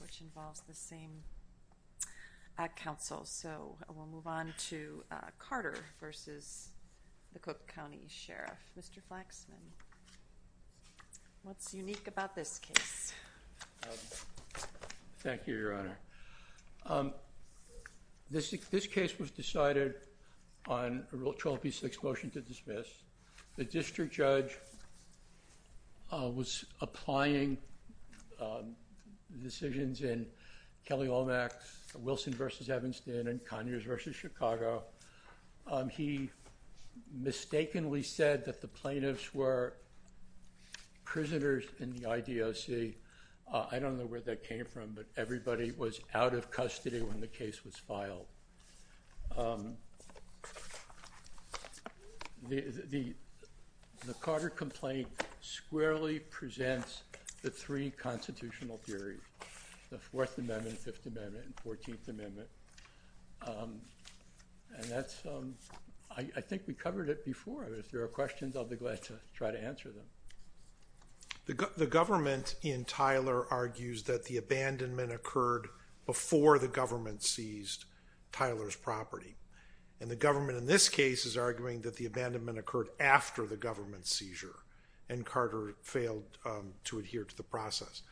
which involves the same council. So we'll move on to Carter versus the Cook County Sheriff. Mr. Flaxman, what's unique about this case? Thank you, Your Honor. This case was decided on a 12 v. 6 motion to dismiss. The district judge was applying decisions in Kelly-Olmec, Wilson v. Evanston, and Conyers v. Chicago. He mistakenly said that the plaintiffs were prisoners in the IDOC. I don't know where that came from, but everybody was out of custody when the case was filed. The Carter complaint squarely presents the three constitutional theories. The Fourth Amendment, Fifth Amendment, and Fourteenth Amendment. I think we covered it before. If there are questions, I'll be glad to try to answer them. The government in Tyler argues that the abandonment occurred before the government seized Tyler's property. And the government in this case is arguing that the abandonment occurred after the government seizure and Carter failed to adhere to the process.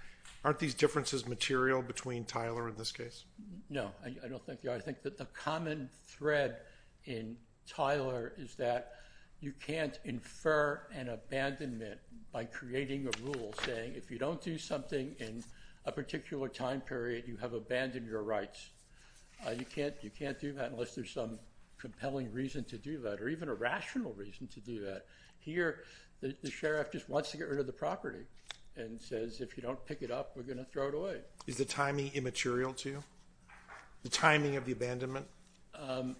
Aren't these differences material between Tyler and this case? No, I don't think they are. I think that the common thread in Tyler is that you can't infer an abandonment by creating a rule saying if you don't do something in a particular time period, you have abandoned your rights. You can't do that unless there's some compelling reason to do that or even a rational reason to do that. Here, the sheriff just wants to get rid of the property and says if you don't pick it up, we're going to throw it away. Is the timing immaterial to you? The timing of the abandonment? I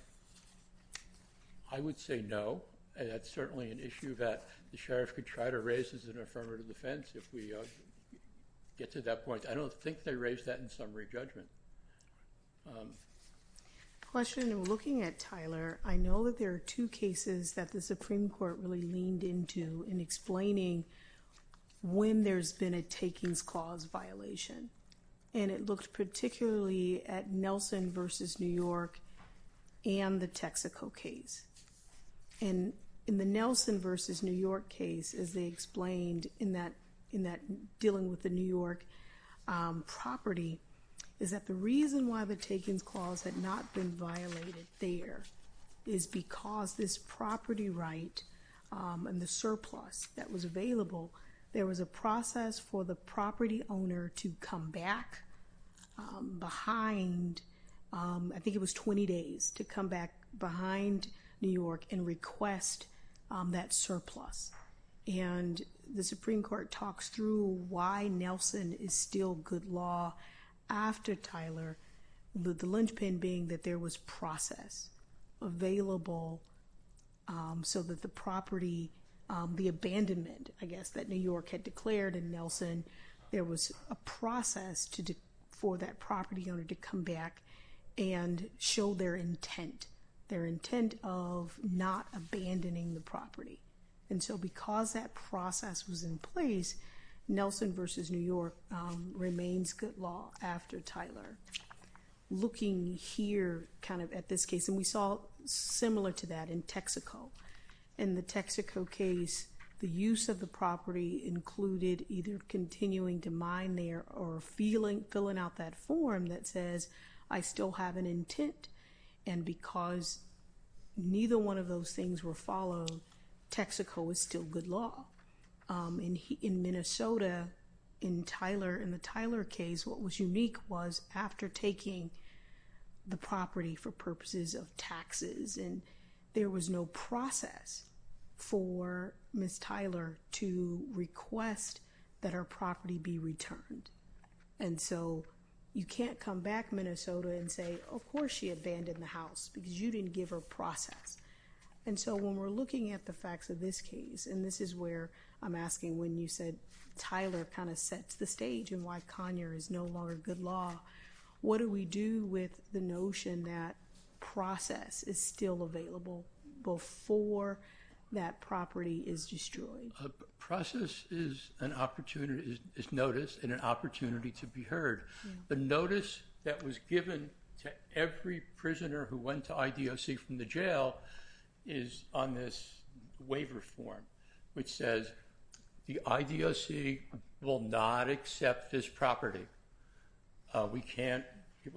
would say no. That's certainly an issue that the sheriff could try to raise as an affirmative defense if we get to that point. I don't think they raised that in summary judgment. Question, looking at Tyler, I know that there are two cases that the Supreme Court really leaned into in explaining when there's been a takings clause violation. It looked particularly at Nelson v. New York and the Texaco case. In the Nelson v. New York case, as they explained in that dealing with the New York property, is that the reason why the takings clause had not been violated there is because this property right and the surplus that was available, there was a process for the property owner to come back behind, I think it was 20 days, to come back behind New York and request that surplus. The Supreme Court talks through why Nelson is still good law after Tyler, the linchpin being that there was process available so that the property, the abandonment, I guess, that New York had declared in Nelson, there was a process for that property owner to come back and show their intent, their intent of not abandoning the property. And so because that process was in place, Nelson v. New York remains good law after Tyler. Looking here, kind of at this case, and we saw similar to that in Texaco. In the Texaco case, the use of the property included either continuing to mine there or filling out that form that says, I still have an intent, and because neither one of those things were followed, Texaco is still good law. In Minnesota, in Tyler, in the Tyler case, what was unique was after taking the property for purposes of taxes, there was no process for Ms. Tyler to request that her property be returned. And so you can't come back, Minnesota, and say, of course she abandoned the house because you didn't give her process. And so when we're looking at the facts of this case, and this is where I'm asking when you said Tyler kind of sets the stage in why Conyer is no longer good law, what do we do with the notion that process is still available before that property is destroyed? Process is notice and an opportunity to be heard. The notice that was given to every prisoner who went to IDOC from the jail is on this waiver form, which says the IDOC will not accept this property. We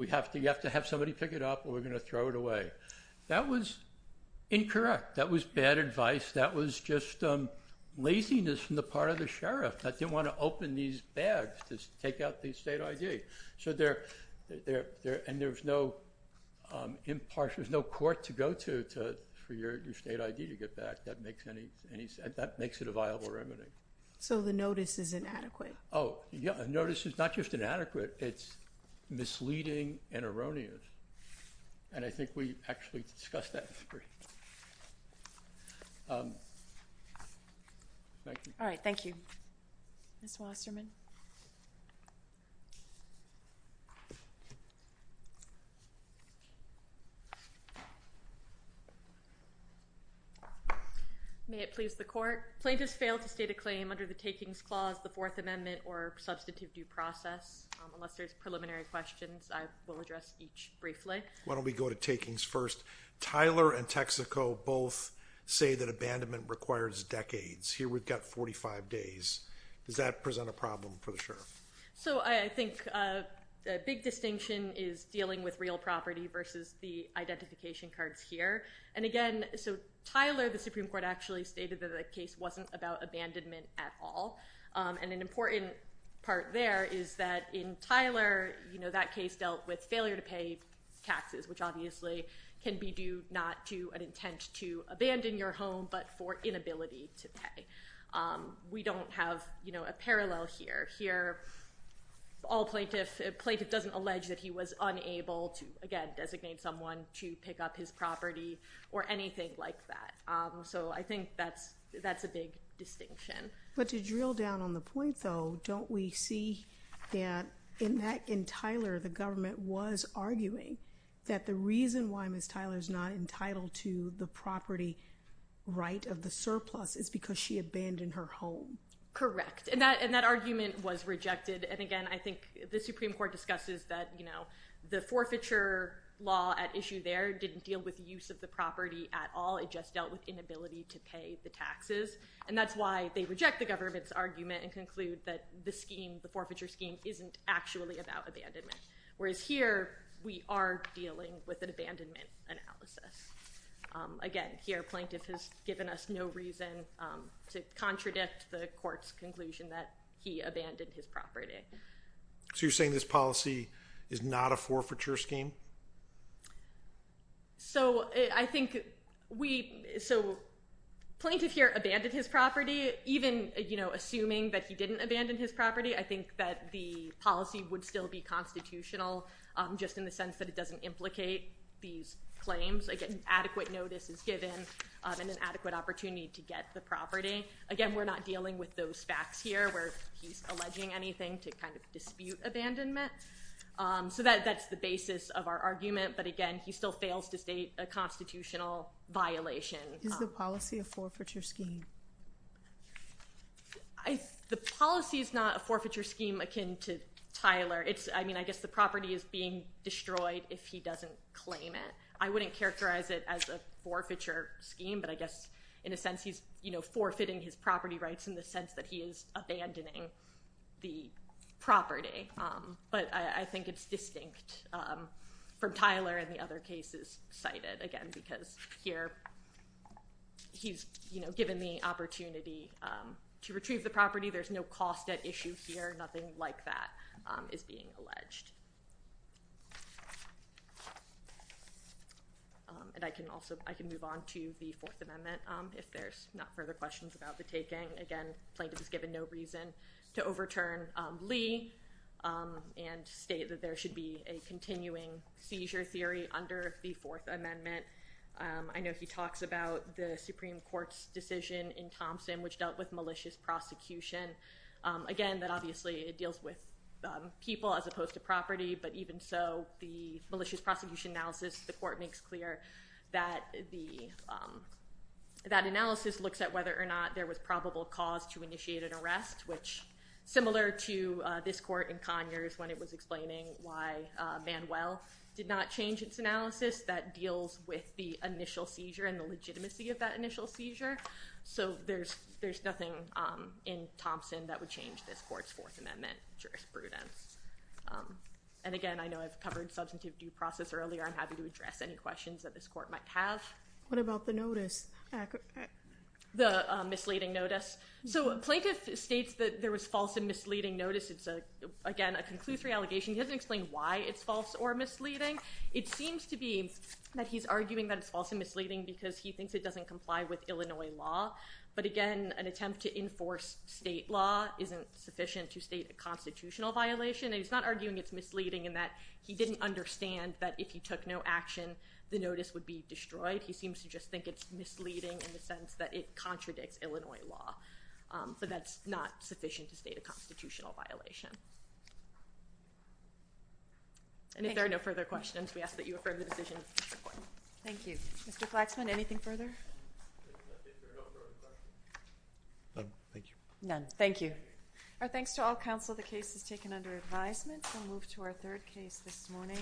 have to have somebody pick it up or we're going to throw it away. That was incorrect. That was bad advice. That was just laziness on the part of the sheriff that didn't want to open these bags to take out the state ID. And there's no court to go to for your state ID to get back. That makes it a viable remedy. So the notice is inadequate. Oh, yeah. The notice is not just inadequate. It's misleading and erroneous. And I think we actually discussed that. All right. Thank you. Ms. Wasserman. May it please the court. Plaintiffs failed to state a claim under the takings clause, the Fourth Amendment or substantive due process. Unless there's preliminary questions, I will address each briefly. Why don't we go to takings first. Tyler and Texaco both say that abandonment requires decades. Here we've got 45 days. Does that present a problem for the sheriff? So I think a big distinction is dealing with real property versus the identification cards here. And, again, so Tyler, the Supreme Court, actually stated that the case wasn't about abandonment at all. And an important part there is that in Tyler, you know, that case dealt with failure to pay taxes, which obviously can be due not to an intent to abandon your home but for inability to pay. We don't have, you know, a parallel here. Here all plaintiff doesn't allege that he was unable to, again, designate someone to pick up his property or anything like that. So I think that's a big distinction. But to drill down on the point, though, don't we see that in Tyler the government was arguing that the reason why Ms. Tyler's not entitled to the property right of the surplus is because she abandoned her home? Correct. And that argument was rejected. And, again, I think the Supreme Court discusses that, you know, the forfeiture law at issue there didn't deal with the use of the property at all. It just dealt with inability to pay the taxes. And that's why they reject the government's argument and conclude that the scheme, the forfeiture scheme, isn't actually about abandonment, whereas here we are dealing with an abandonment analysis. Again, here plaintiff has given us no reason to contradict the court's conclusion that he abandoned his property. So you're saying this policy is not a forfeiture scheme? So I think we – so plaintiff here abandoned his property. Even, you know, assuming that he didn't abandon his property, I think that the policy would still be constitutional just in the sense that it doesn't implicate these claims. Again, adequate notice is given and an adequate opportunity to get the property. Again, we're not dealing with those facts here where he's alleging anything to kind of dispute abandonment. So that's the basis of our argument. But again, he still fails to state a constitutional violation. Is the policy a forfeiture scheme? The policy is not a forfeiture scheme akin to Tyler. I mean, I guess the property is being destroyed if he doesn't claim it. I wouldn't characterize it as a forfeiture scheme, but I guess in a sense he's, you know, forfeiting his property rights in the sense that he is abandoning the property. But I think it's distinct from Tyler and the other cases cited, again, because here he's, you know, given the opportunity to retrieve the property. There's no cost at issue here. Nothing like that is being alleged. And I can also – I can move on to the Fourth Amendment if there's not further questions about the taking. Again, Plaintiff is given no reason to overturn Lee and state that there should be a continuing seizure theory under the Fourth Amendment. I know he talks about the Supreme Court's decision in Thompson which dealt with malicious prosecution. Again, that obviously it deals with people as opposed to property, but even so, the malicious prosecution analysis, the court makes clear that the – that analysis looks at whether or not there was probable cause to initiate an arrest, which similar to this court in Conyers when it was explaining why Manuel did not change its analysis, that deals with the initial seizure and the legitimacy of that initial seizure. So there's nothing in Thompson that would change this court's Fourth Amendment jurisprudence. And again, I know I've covered substantive due process earlier. I'm happy to address any questions that this court might have. What about the notice? The misleading notice. So Plaintiff states that there was false and misleading notice. It's, again, a conclusory allegation. He doesn't explain why it's false or misleading. It seems to be that he's arguing that it's false and misleading because he thinks it doesn't comply with Illinois law. But again, an attempt to enforce state law isn't sufficient to state a constitutional violation. And he's not arguing it's misleading in that he didn't understand that if he took no action, the notice would be destroyed. He seems to just think it's misleading in the sense that it contradicts Illinois law. But that's not sufficient to state a constitutional violation. And if there are no further questions, we ask that you affirm the decision. Thank you. Mr. Flaxman, anything further? None. Thank you. None. Thank you. Our thanks to all counsel. The case is taken under advisement. We'll move to our third case this morning.